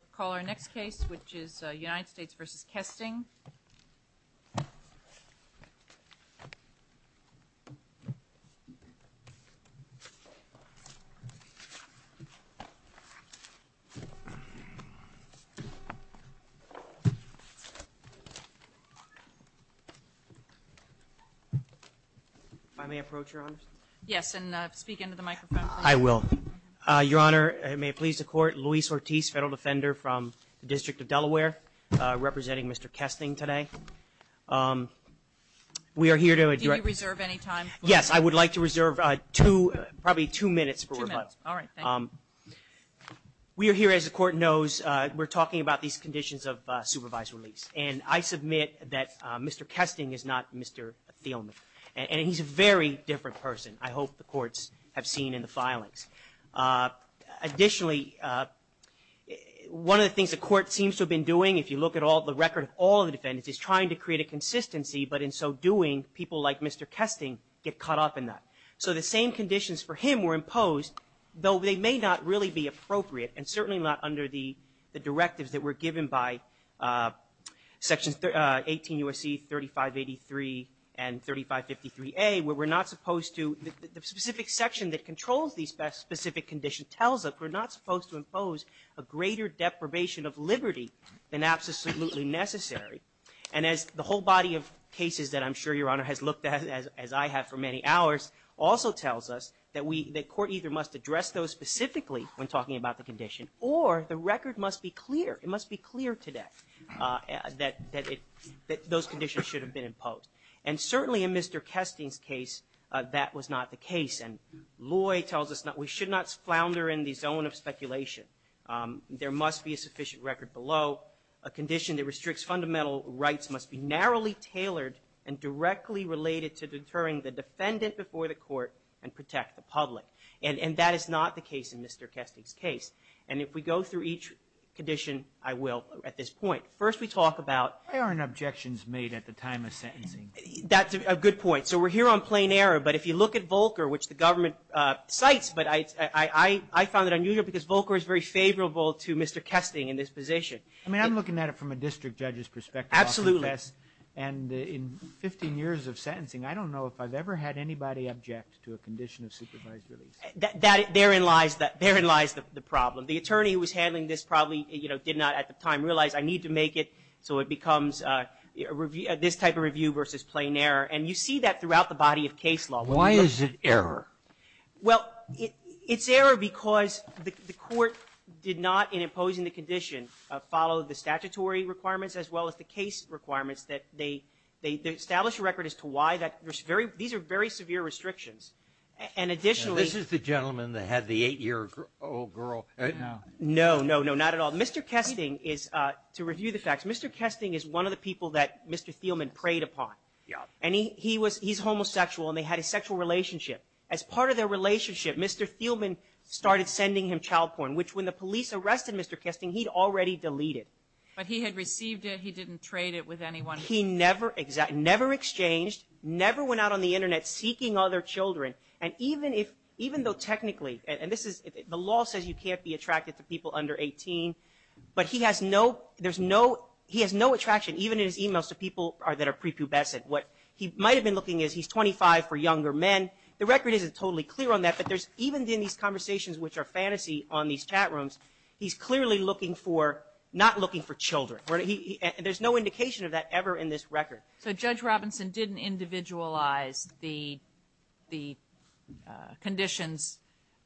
We will call our next case, which is United States v. Kesting. If I may approach, Your Honor. Yes, and speak into the microphone, please. I will. Your Honor, may it please the Court. Luis Ortiz, Federal Defender from the District of Delaware, representing Mr. Kesting today. We are here to address. Do you reserve any time? Yes, I would like to reserve two, probably two minutes for rebuttal. Two minutes. All right. Thank you. We are here, as the Court knows, we're talking about these conditions of supervised release. And I submit that Mr. Kesting is not Mr. Thielman. And he's a very different person, I hope the Courts have seen in the filings. Additionally, one of the things the Court seems to have been doing, if you look at the record of all the defendants, is trying to create a consistency. But in so doing, people like Mr. Kesting get caught up in that. So the same conditions for him were imposed, though they may not really be appropriate, and certainly not under the directives that were given by Sections 18 U.S.C. 3583 and 3553A, where we're not supposed to, the specific section that controls these specific conditions tells us we're not supposed to impose a greater deprivation of liberty than absolutely necessary. And as the whole body of cases that I'm sure Your Honor has looked at, as I have for many hours, also tells us that Court either must address those specifically when talking about the condition, or the record must be clear. It must be clear today that those conditions should have been imposed. And certainly in Mr. Kesting's case, that was not the case. And Loy tells us we should not flounder in the zone of speculation. There must be a sufficient record below. A condition that restricts fundamental rights must be narrowly tailored and directly related to deterring the defendant before the court and protect the public. And that is not the case in Mr. Kesting's case. And if we go through each condition, I will at this point. First we talk about ---- Why aren't objections made at the time of sentencing? That's a good point. So we're here on plain error, but if you look at Volcker, which the government cites, but I found it unusual because Volcker is very favorable to Mr. Kesting in this position. I mean, I'm looking at it from a district judge's perspective. Absolutely. And in 15 years of sentencing, I don't know if I've ever had anybody object to a condition of supervised release. Therein lies the problem. The attorney who was handling this probably, you know, did not at the time realize, I need to make it so it becomes this type of review versus plain error. And you see that throughout the body of case law. Why is it error? Well, it's error because the court did not, in imposing the condition, follow the statutory requirements as well as the case requirements. They established a record as to why. These are very severe restrictions. And additionally ---- This is the gentleman that had the eight-year-old girl. No, no, no, not at all. Mr. Kesting is, to review the facts, Mr. Kesting is one of the people that Mr. Thielman preyed upon. Yeah. And he's homosexual, and they had a sexual relationship. As part of their relationship, Mr. Thielman started sending him child porn, which when the police arrested Mr. Kesting, he'd already deleted. But he had received it. He didn't trade it with anyone. He never exchanged, never went out on the Internet seeking other children. And even if, even though technically, and this is, the law says you can't be attracted to people under 18, but he has no, there's no, he has no attraction, even in his e-mails, to people that are prepubescent. What he might have been looking at is he's 25 for younger men. The record isn't totally clear on that, but there's, even in these conversations which are fantasy on these chat rooms, he's clearly looking for, not looking for children. There's no indication of that ever in this record. So Judge Robinson didn't individualize the conditions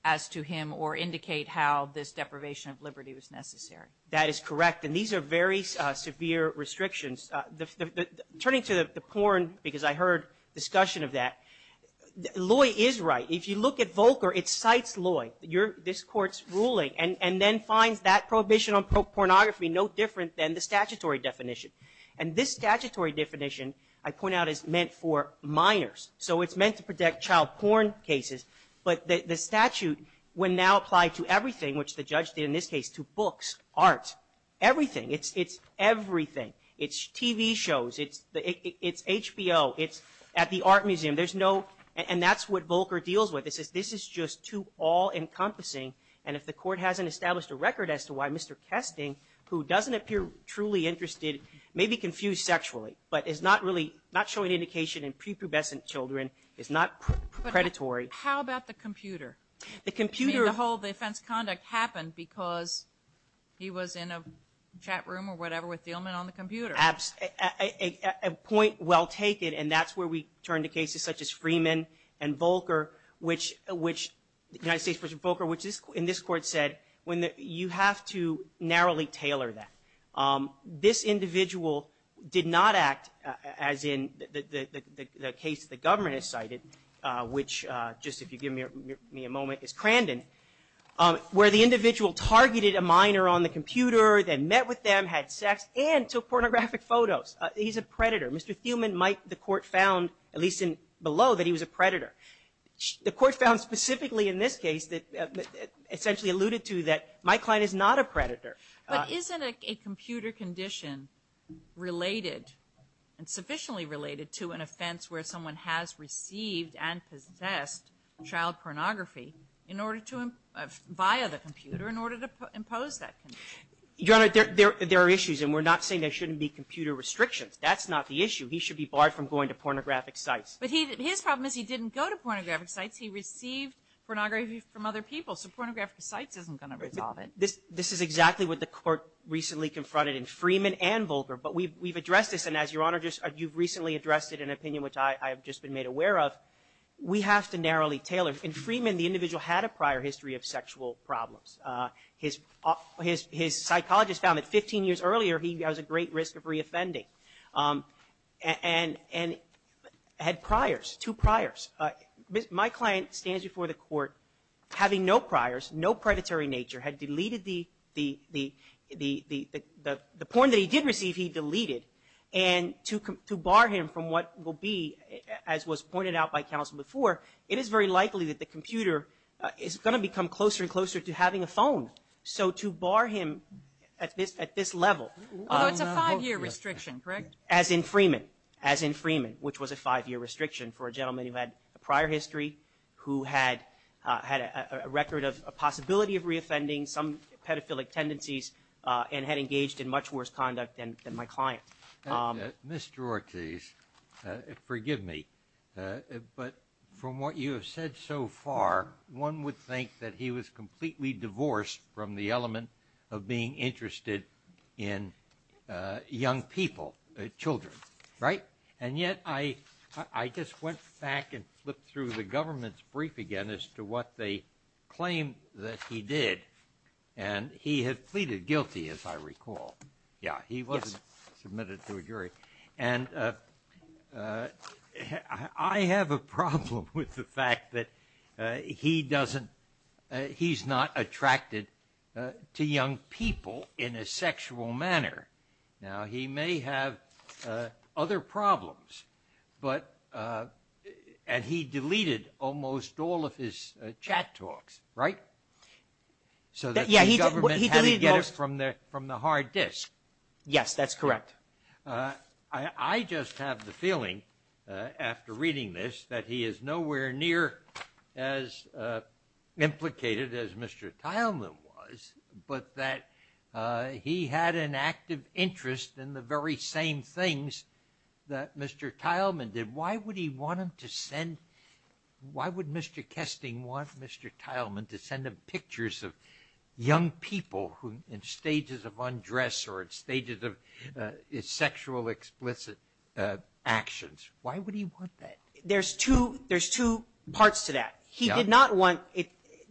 as to him or indicate how this deprivation of liberty was necessary. That is correct. And these are very severe restrictions. Turning to the porn, because I heard discussion of that, Lloyd is right. If you look at Volcker, it cites Lloyd, this Court's ruling, and then finds that prohibition on pornography no different than the statutory definition. And this statutory definition, I point out, is meant for minors. So it's meant to protect child porn cases, but the statute would now apply to everything, which the judge did in this case, to books, art, everything. It's everything. It's TV shows. It's HBO. It's at the art museum. And that's what Volcker deals with. This is just too all-encompassing. And if the Court hasn't established a record as to why Mr. Kesting, who doesn't appear truly interested, may be confused sexually, but is not really showing indication in prepubescent children, is not predatory. How about the computer? The computer. You mean the whole defense conduct happened because he was in a chat room or whatever with the ailment on the computer. A point well taken, and that's where we turn to cases such as Freeman and Volcker, which the United States version of Volcker, which in this Court said, you have to narrowly tailor that. This individual did not act as in the case the government has cited, which just if you give me a moment, is Crandon, where the individual targeted a minor on the computer, then met with them, had sex, and took pornographic photos. He's a predator. Mr. Thuman, Mike, the Court found, at least below, that he was a predator. The Court found specifically in this case, essentially alluded to that Mike Klein is not a predator. But isn't a computer condition related and sufficiently related to an offense where someone has received and possessed child pornography in order to, via the computer, in order to impose that condition? Your Honor, there are issues, and we're not saying there shouldn't be computer restrictions. That's not the issue. He should be barred from going to pornographic sites. But his problem is he didn't go to pornographic sites. He received pornography from other people, so pornographic sites isn't going to resolve it. This is exactly what the Court recently confronted in Freeman and Volcker. But we've addressed this, and as Your Honor, you've recently addressed it in an opinion which I have just been made aware of. We have to narrowly tailor. In Freeman, the individual had a prior history of sexual problems. His psychologist found that 15 years earlier he has a great risk of reoffending and had priors, two priors. Mike Klein stands before the Court having no priors, no predatory nature, had deleted the porn that he did receive, he deleted. And to bar him from what will be, as was pointed out by counsel before, it is very likely that the computer is going to become closer and closer to having a phone, so to bar him at this level. Although it's a five-year restriction, correct? As in Freeman, as in Freeman, which was a five-year restriction for a gentleman who had a prior history, who had a record of a possibility of reoffending, some pedophilic tendencies, and had engaged in much worse conduct than my client. Mr. Ortiz, forgive me, but from what you have said so far, one would think that he was completely divorced from the element of being interested in young people, children, right? And yet I just went back and flipped through the government's brief again as to what they claimed that he did. And he had pleaded guilty, as I recall. Yeah, he wasn't submitted to a jury. And I have a problem with the fact that he doesn't, he's not attracted to young people in a sexual manner. Now, he may have other problems, but, and he deleted almost all of his chat talks, right? So that the government had to get it from the hard disk. Yes, that's correct. I just have the feeling, after reading this, that he is nowhere near as implicated as Mr. Tileman was, but that he had an active interest in the very same things that Mr. Tileman did. Why would he want him to send, why would Mr. Kesting want Mr. Tileman to send him pictures of young people in stages of undress or in stages of sexual explicit actions? Why would he want that? There's two parts to that. He did not want,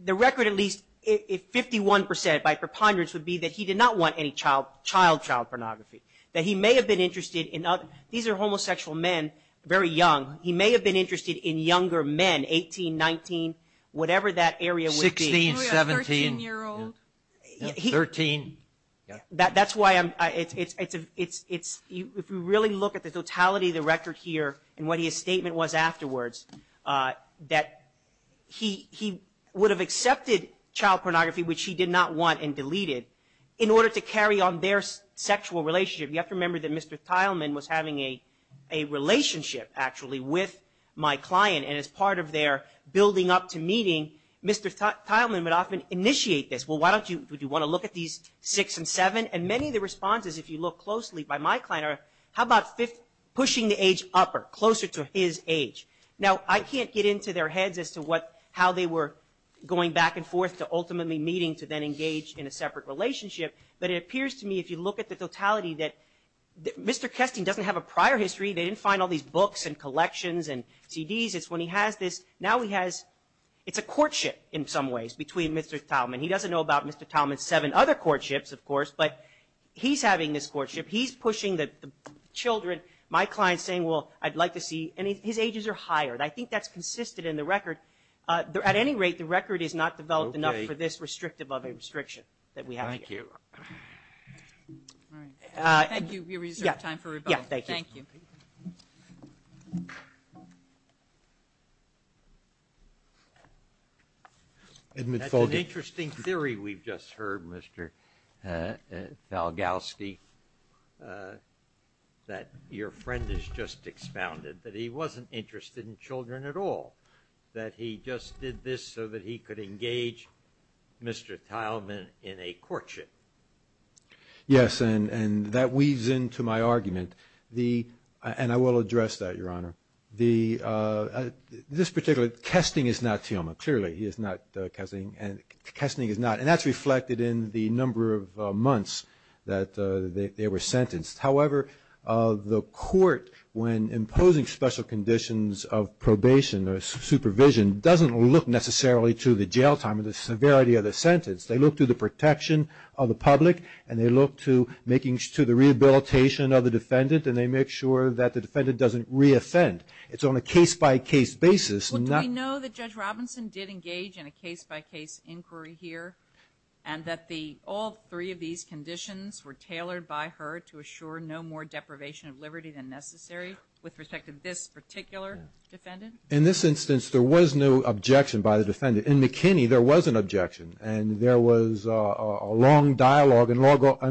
the record at least, 51% by preponderance, would be that he did not want any child-child pornography. That he may have been interested in, these are homosexual men, very young. He may have been interested in younger men, 18, 19, whatever that area would be. 16, 17. Or a 13-year-old. 13. That's why I'm, it's, if you really look at the totality of the record here and what his statement was afterwards, that he would have accepted child pornography, which he did not want, and deleted, in order to carry on their sexual relationship. You have to remember that Mr. Tileman was having a relationship, actually, with my client. And as part of their building up to meeting, Mr. Tileman would often initiate this. Well, why don't you, would you want to look at these six and seven? And many of the responses, if you look closely, by my client are, how about pushing the age upper, closer to his age? Now, I can't get into their heads as to what, how they were going back and forth to ultimately meeting to then engage in a separate relationship. But it appears to me, if you look at the totality, that Mr. Kesting doesn't have a prior history. They didn't find all these books and collections and CDs. It's when he has this, now he has, it's a courtship in some ways between Mr. Tileman. He doesn't know about Mr. Tileman's seven other courtships, of course, but he's having this courtship. He's pushing the children. My client's saying, well, I'd like to see, and his ages are higher. And I think that's consistent in the record. At any rate, the record is not developed enough for this restrictive of a restriction that we have here. All right. Thank you. We reserve time for rebuttal. Yeah, thank you. Thank you. Edmund Folgate. That's an interesting theory we've just heard, Mr. Falgowski, that your friend has just expounded, that he wasn't interested in children at all, that he just did this so that he could engage Mr. Yes, and that weaves into my argument. And I will address that, Your Honor. This particular, casting is not Tileman. Clearly, he is not casting, and casting is not. And that's reflected in the number of months that they were sentenced. However, the court, when imposing special conditions of probation or supervision, doesn't look necessarily to the jail time or the severity of the sentence. They look to the protection of the public, and they look to the rehabilitation of the defendant, and they make sure that the defendant doesn't reoffend. It's on a case-by-case basis. Well, do we know that Judge Robinson did engage in a case-by-case inquiry here, and that all three of these conditions were tailored by her to assure no more deprivation of liberty than necessary with respect to this particular defendant? In this instance, there was no objection by the defendant. In McKinney, there was an objection, and there was a long dialogue and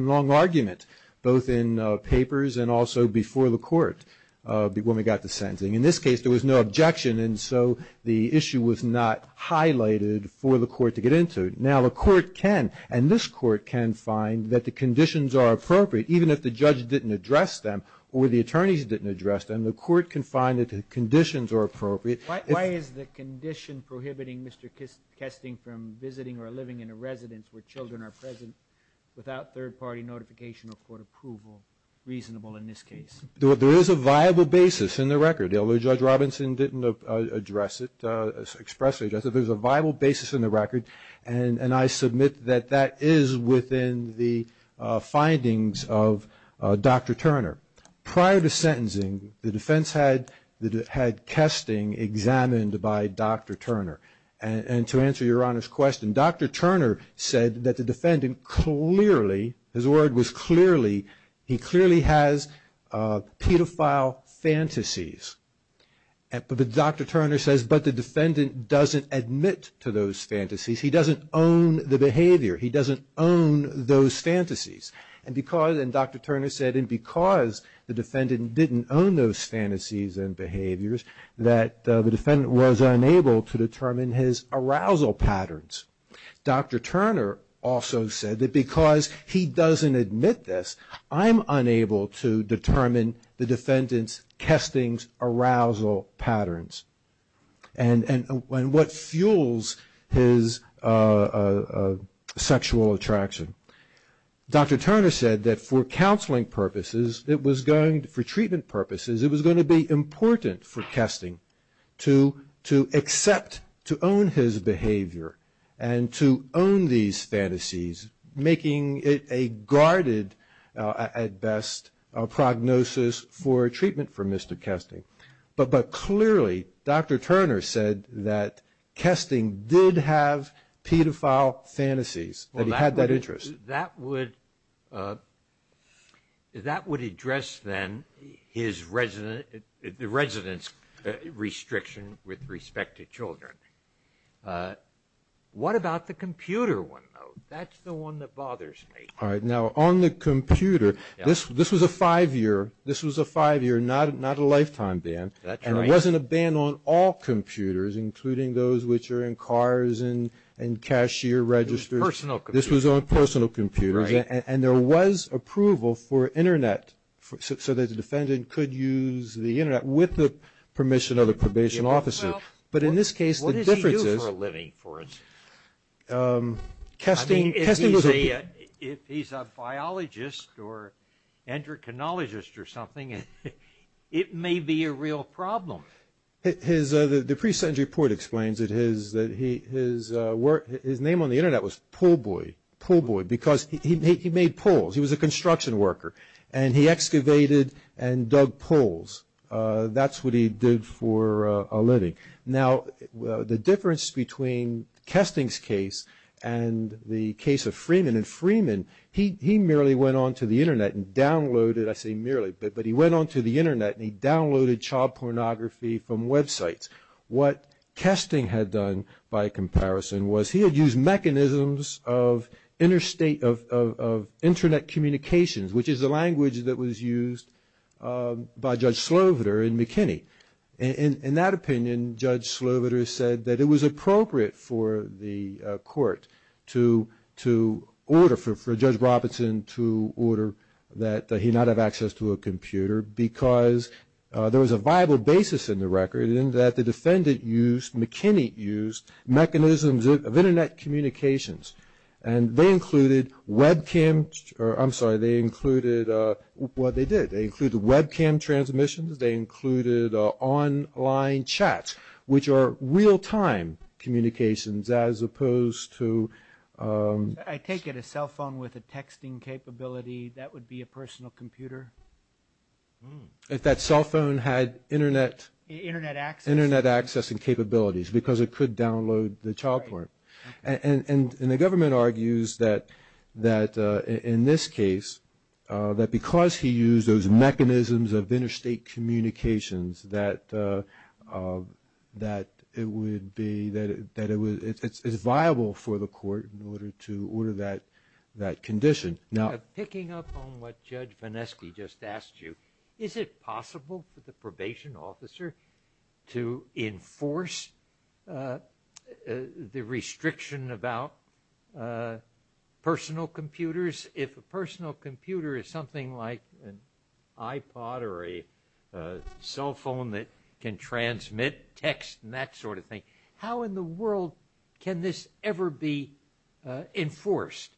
long argument, both in papers and also before the court when we got to sentencing. In this case, there was no objection, and so the issue was not highlighted for the court to get into. Now, the court can, and this court can find that the conditions are appropriate, even if the judge didn't address them or the attorneys didn't address them, the court can find that the conditions are appropriate. Why is the condition prohibiting Mr. Kesting from visiting or living in a residence where children are present without third-party notification or court approval reasonable in this case? There is a viable basis in the record. Although Judge Robinson didn't expressly address it, there's a viable basis in the record, and I submit that that is within the findings of Dr. Turner. Prior to sentencing, the defense had Kesting examined by Dr. Turner, and to answer Your Honor's question, Dr. Turner said that the defendant clearly, his word was clearly, he clearly has pedophile fantasies. Dr. Turner says, but the defendant doesn't admit to those fantasies. He doesn't own the behavior. He doesn't own those fantasies. And because, and Dr. Turner said, and because the defendant didn't own those fantasies and behaviors, that the defendant was unable to determine his arousal patterns. Dr. Turner also said that because he doesn't admit this, I'm unable to determine the defendant's Kesting's arousal patterns, and what fuels his sexual attraction. Dr. Turner said that for counseling purposes, it was going, for treatment purposes, it was going to be important for Kesting to accept, to own his behavior, and to own these fantasies, making it a guarded, at best, a prognosis for treatment for Mr. Kesting. But clearly, Dr. Turner said that Kesting did have pedophile fantasies, that he had that interest. Well, that would address, then, the resident's restriction with respect to children. What about the computer one, though? That's the one that bothers me. All right. Now, on the computer, this was a five-year, not a lifetime ban. That's right. And it wasn't a ban on all computers, including those which are in cars and cashier registers. Personal computers. This was on personal computers. Right. And there was approval for Internet, so that the defendant could use the Internet with the permission of the probation officer. But in this case, the difference is… What does he do for a living, for instance? Kesting was a… I mean, if he's a biologist or endocrinologist or something, it may be a real problem. The pre-sentence report explains that his name on the Internet was Pullboy, because he made poles. He was a construction worker, and he excavated and dug poles. That's what he did for a living. Now, the difference between Kesting's case and the case of Freeman, and Freeman, he merely went onto the Internet and downloaded… I say merely, but he went onto the Internet and he downloaded child pornography from websites. What Kesting had done, by comparison, was he had used mechanisms of Internet communications, which is the language that was used by Judge Sloviter in McKinney. In that opinion, Judge Sloviter said that it was appropriate for the court to order, for Judge Robinson to order that he not have access to a computer, because there was a viable basis in the record in that the defendant used, McKinney used, mechanisms of Internet communications. And they included webcam… I'm sorry. They included… Well, they did. They included webcam transmissions. They included online chats, which are real-time communications, as opposed to… I take it a cell phone with a texting capability, that would be a personal computer. If that cell phone had Internet… Internet access. Internet access and capabilities, because it could download the child porn. And the government argues that, in this case, that because he used those mechanisms of interstate communications, that it would be… that it's viable for the court in order to order that condition. Now… Picking up on what Judge Vonesky just asked you, is it possible for the probation officer to enforce the restriction about personal computers? If a personal computer is something like an iPod or a cell phone that can transmit text and that sort of thing, how in the world can this ever be enforced?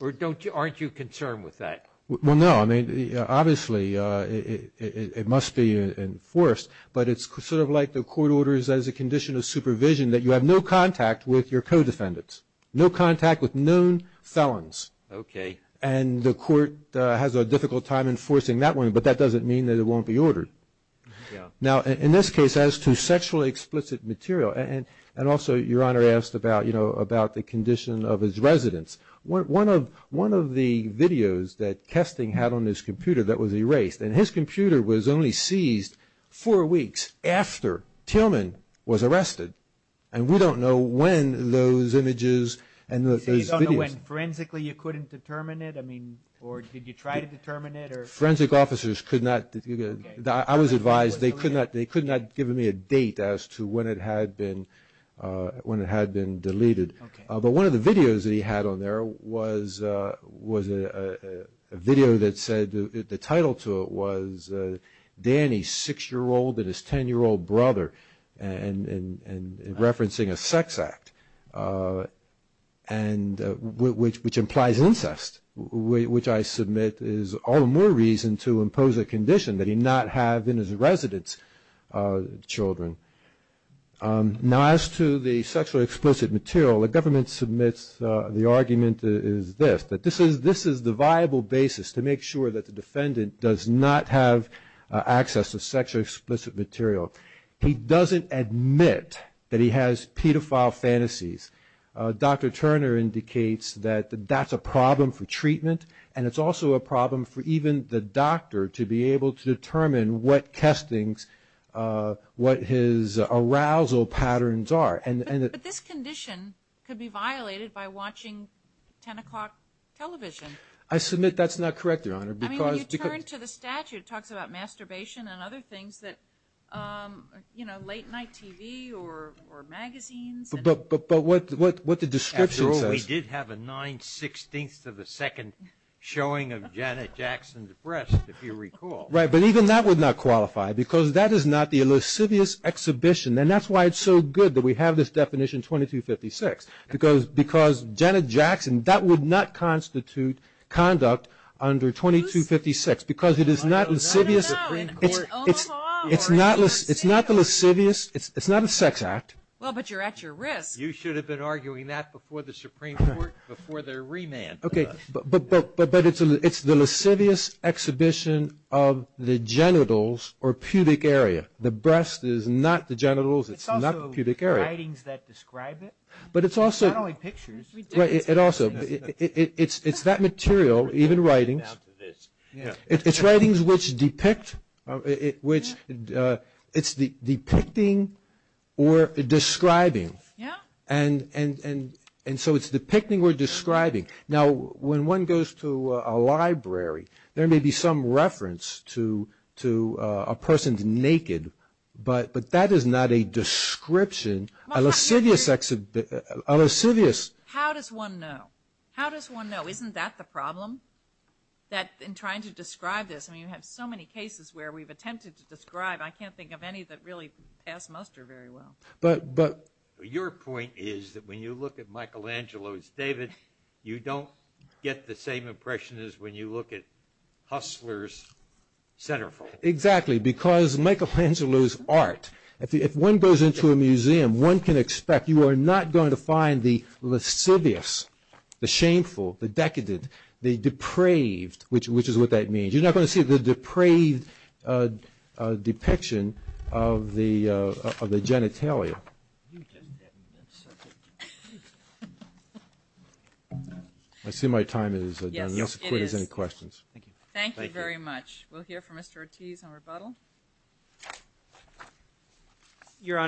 Or don't you… Aren't you concerned with that? Well, no. I mean, obviously, it must be enforced, but it's sort of like the court orders as a condition of supervision that you have no contact with your co-defendants. No contact with known felons. Okay. And the court has a difficult time enforcing that one, but that doesn't mean that it won't be ordered. Yeah. Now, in this case, as to sexually explicit material, and also Your Honor asked about, you know, about the condition of his residence. One of the videos that Kesting had on his computer that was erased, and his computer was only seized four weeks after Tillman was arrested, and we don't know when those images and those videos… So you don't know when forensically you couldn't determine it? I mean, or did you try to determine it? Forensic officers could not… I was advised they could not give me a date as to when it had been deleted. Okay. But one of the videos that he had on there was a video that said, the title to it was Danny, 6-year-old and his 10-year-old brother, and referencing a sex act, which implies incest, which I submit is all the more reason to impose a condition that he not have in his residence children. Now, as to the sexually explicit material, the government submits the argument is this, that this is the viable basis to make sure that the defendant does not have access to sexually explicit material. He doesn't admit that he has pedophile fantasies. Dr. Turner indicates that that's a problem for treatment, and it's also a problem for even the doctor to be able to determine what testings, what his arousal patterns are. But this condition could be violated by watching 10 o'clock television. I submit that's not correct, Your Honor. I mean, when you turn to the statute, it talks about masturbation and other things that, you know, late night TV or magazines. But what the description says. After all, we did have a 916th of a second showing of Janet Jackson's breast, if you recall. Right, but even that would not qualify, because that is not the lascivious exhibition, and that's why it's so good that we have this definition 2256, because Janet Jackson, that would not constitute conduct under 2256, because it is not lascivious. I don't know. It's not the lascivious. It's not a sex act. Well, but you're at your risk. You should have been arguing that before the Supreme Court, before their remand. Okay, but it's the lascivious exhibition of the genitals or pubic area. The breast is not the genitals. It's not the pubic area. It's also the writings that describe it. But it's also. Not only pictures. Right, it also. It's that material, even writings. It's writings which depict, which it's depicting or describing. Yeah. And so it's depicting or describing. Now, when one goes to a library, there may be some reference to a person's naked, but that is not a description, a lascivious. How does one know? How does one know? Isn't that the problem? That in trying to describe this. I mean, you have so many cases where we've attempted to describe. I can't think of any that really pass muster very well. But your point is that when you look at Michelangelo's David, you don't get the same impression as when you look at Hussler's centerfold. Exactly, because Michelangelo's art. If one goes into a museum, one can expect you are not going to find the shameful, the decadent, the depraved, which is what that means. You're not going to see the depraved depiction of the genitalia. I see my time is done. Yes, it is. If there's any questions. Thank you. Thank you very much. We'll hear from Mr. Ortiz on rebuttal. Your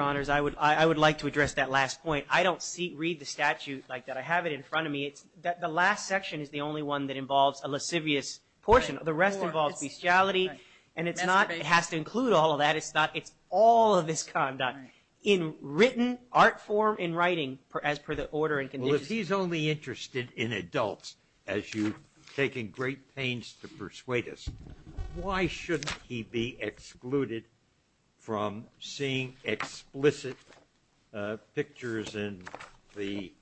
Honor, I would like to address that last point. I don't read the statute like that. I have it in front of me. The last section is the only one that involves a lascivious portion. The rest involves bestiality, and it has to include all of that. It's all of this conduct in written art form, in writing, as per the order and conditions. Well, if he's only interested in adults, as you've taken great pains to persuade us, why shouldn't he be excluded from seeing explicit pictures in the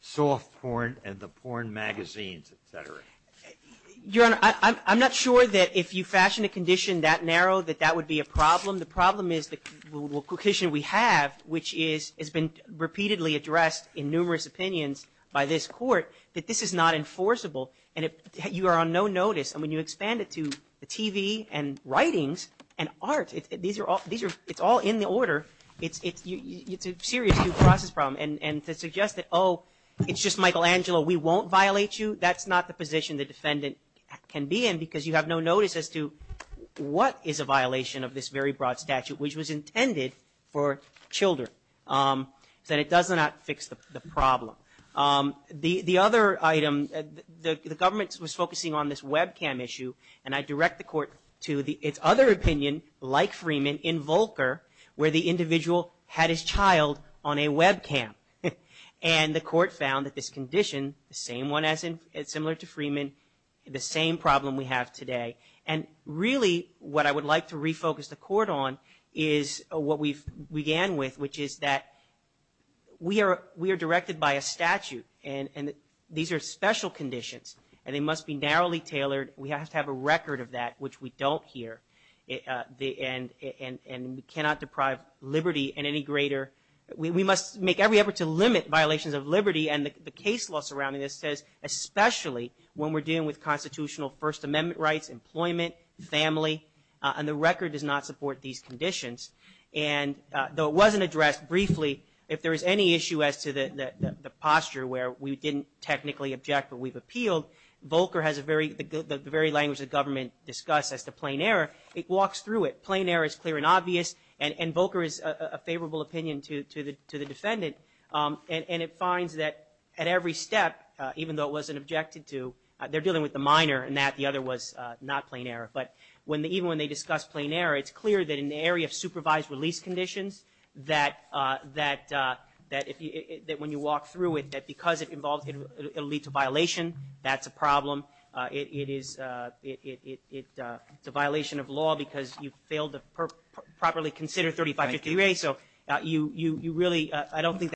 soft porn and the porn magazines, et cetera? Your Honor, I'm not sure that if you fashion a condition that narrow, that that would be a problem. The problem is the condition we have, which has been repeatedly addressed in numerous opinions by this Court, that this is not enforceable, and you are on no notice. And when you expand it to TV and writings and art, it's all in the order. It's a serious due process problem. And to suggest that, oh, it's just Michelangelo, we won't violate you, that's not the position the defendant can be in because you have no notice as to what is a violation of this very broad statute, which was intended for children, that it does not fix the problem. The other item, the government was focusing on this webcam issue, and I direct the Court to its other opinion, like Freeman, in Volcker, where the individual had his child on a webcam. And the Court found that this condition, the same one similar to Freeman, the same problem we have today. And really what I would like to refocus the Court on is what we began with, which is that we are directed by a statute, and these are special conditions, and they must be narrowly tailored. We have to have a record of that, which we don't here. And we cannot deprive liberty in any greater – we must make every effort to limit violations of liberty and the case law surrounding this, especially when we're dealing with constitutional First Amendment rights, employment, family, and the record does not support these conditions. And though it wasn't addressed briefly, if there is any issue as to the posture where we didn't technically object but we've appealed, Volcker has a very – the very language the government discussed as to plain error, it walks through it. Plain error is clear and obvious, and Volcker is a favorable opinion to the defendant. And it finds that at every step, even though it wasn't objected to, they're dealing with the minor and that, the other was not plain error. But even when they discuss plain error, it's clear that in the area of supervised release conditions that when you walk through it, that because it involves – it will lead to violation. That's a problem. It is – it's a violation of law because you failed to properly consider 3550A.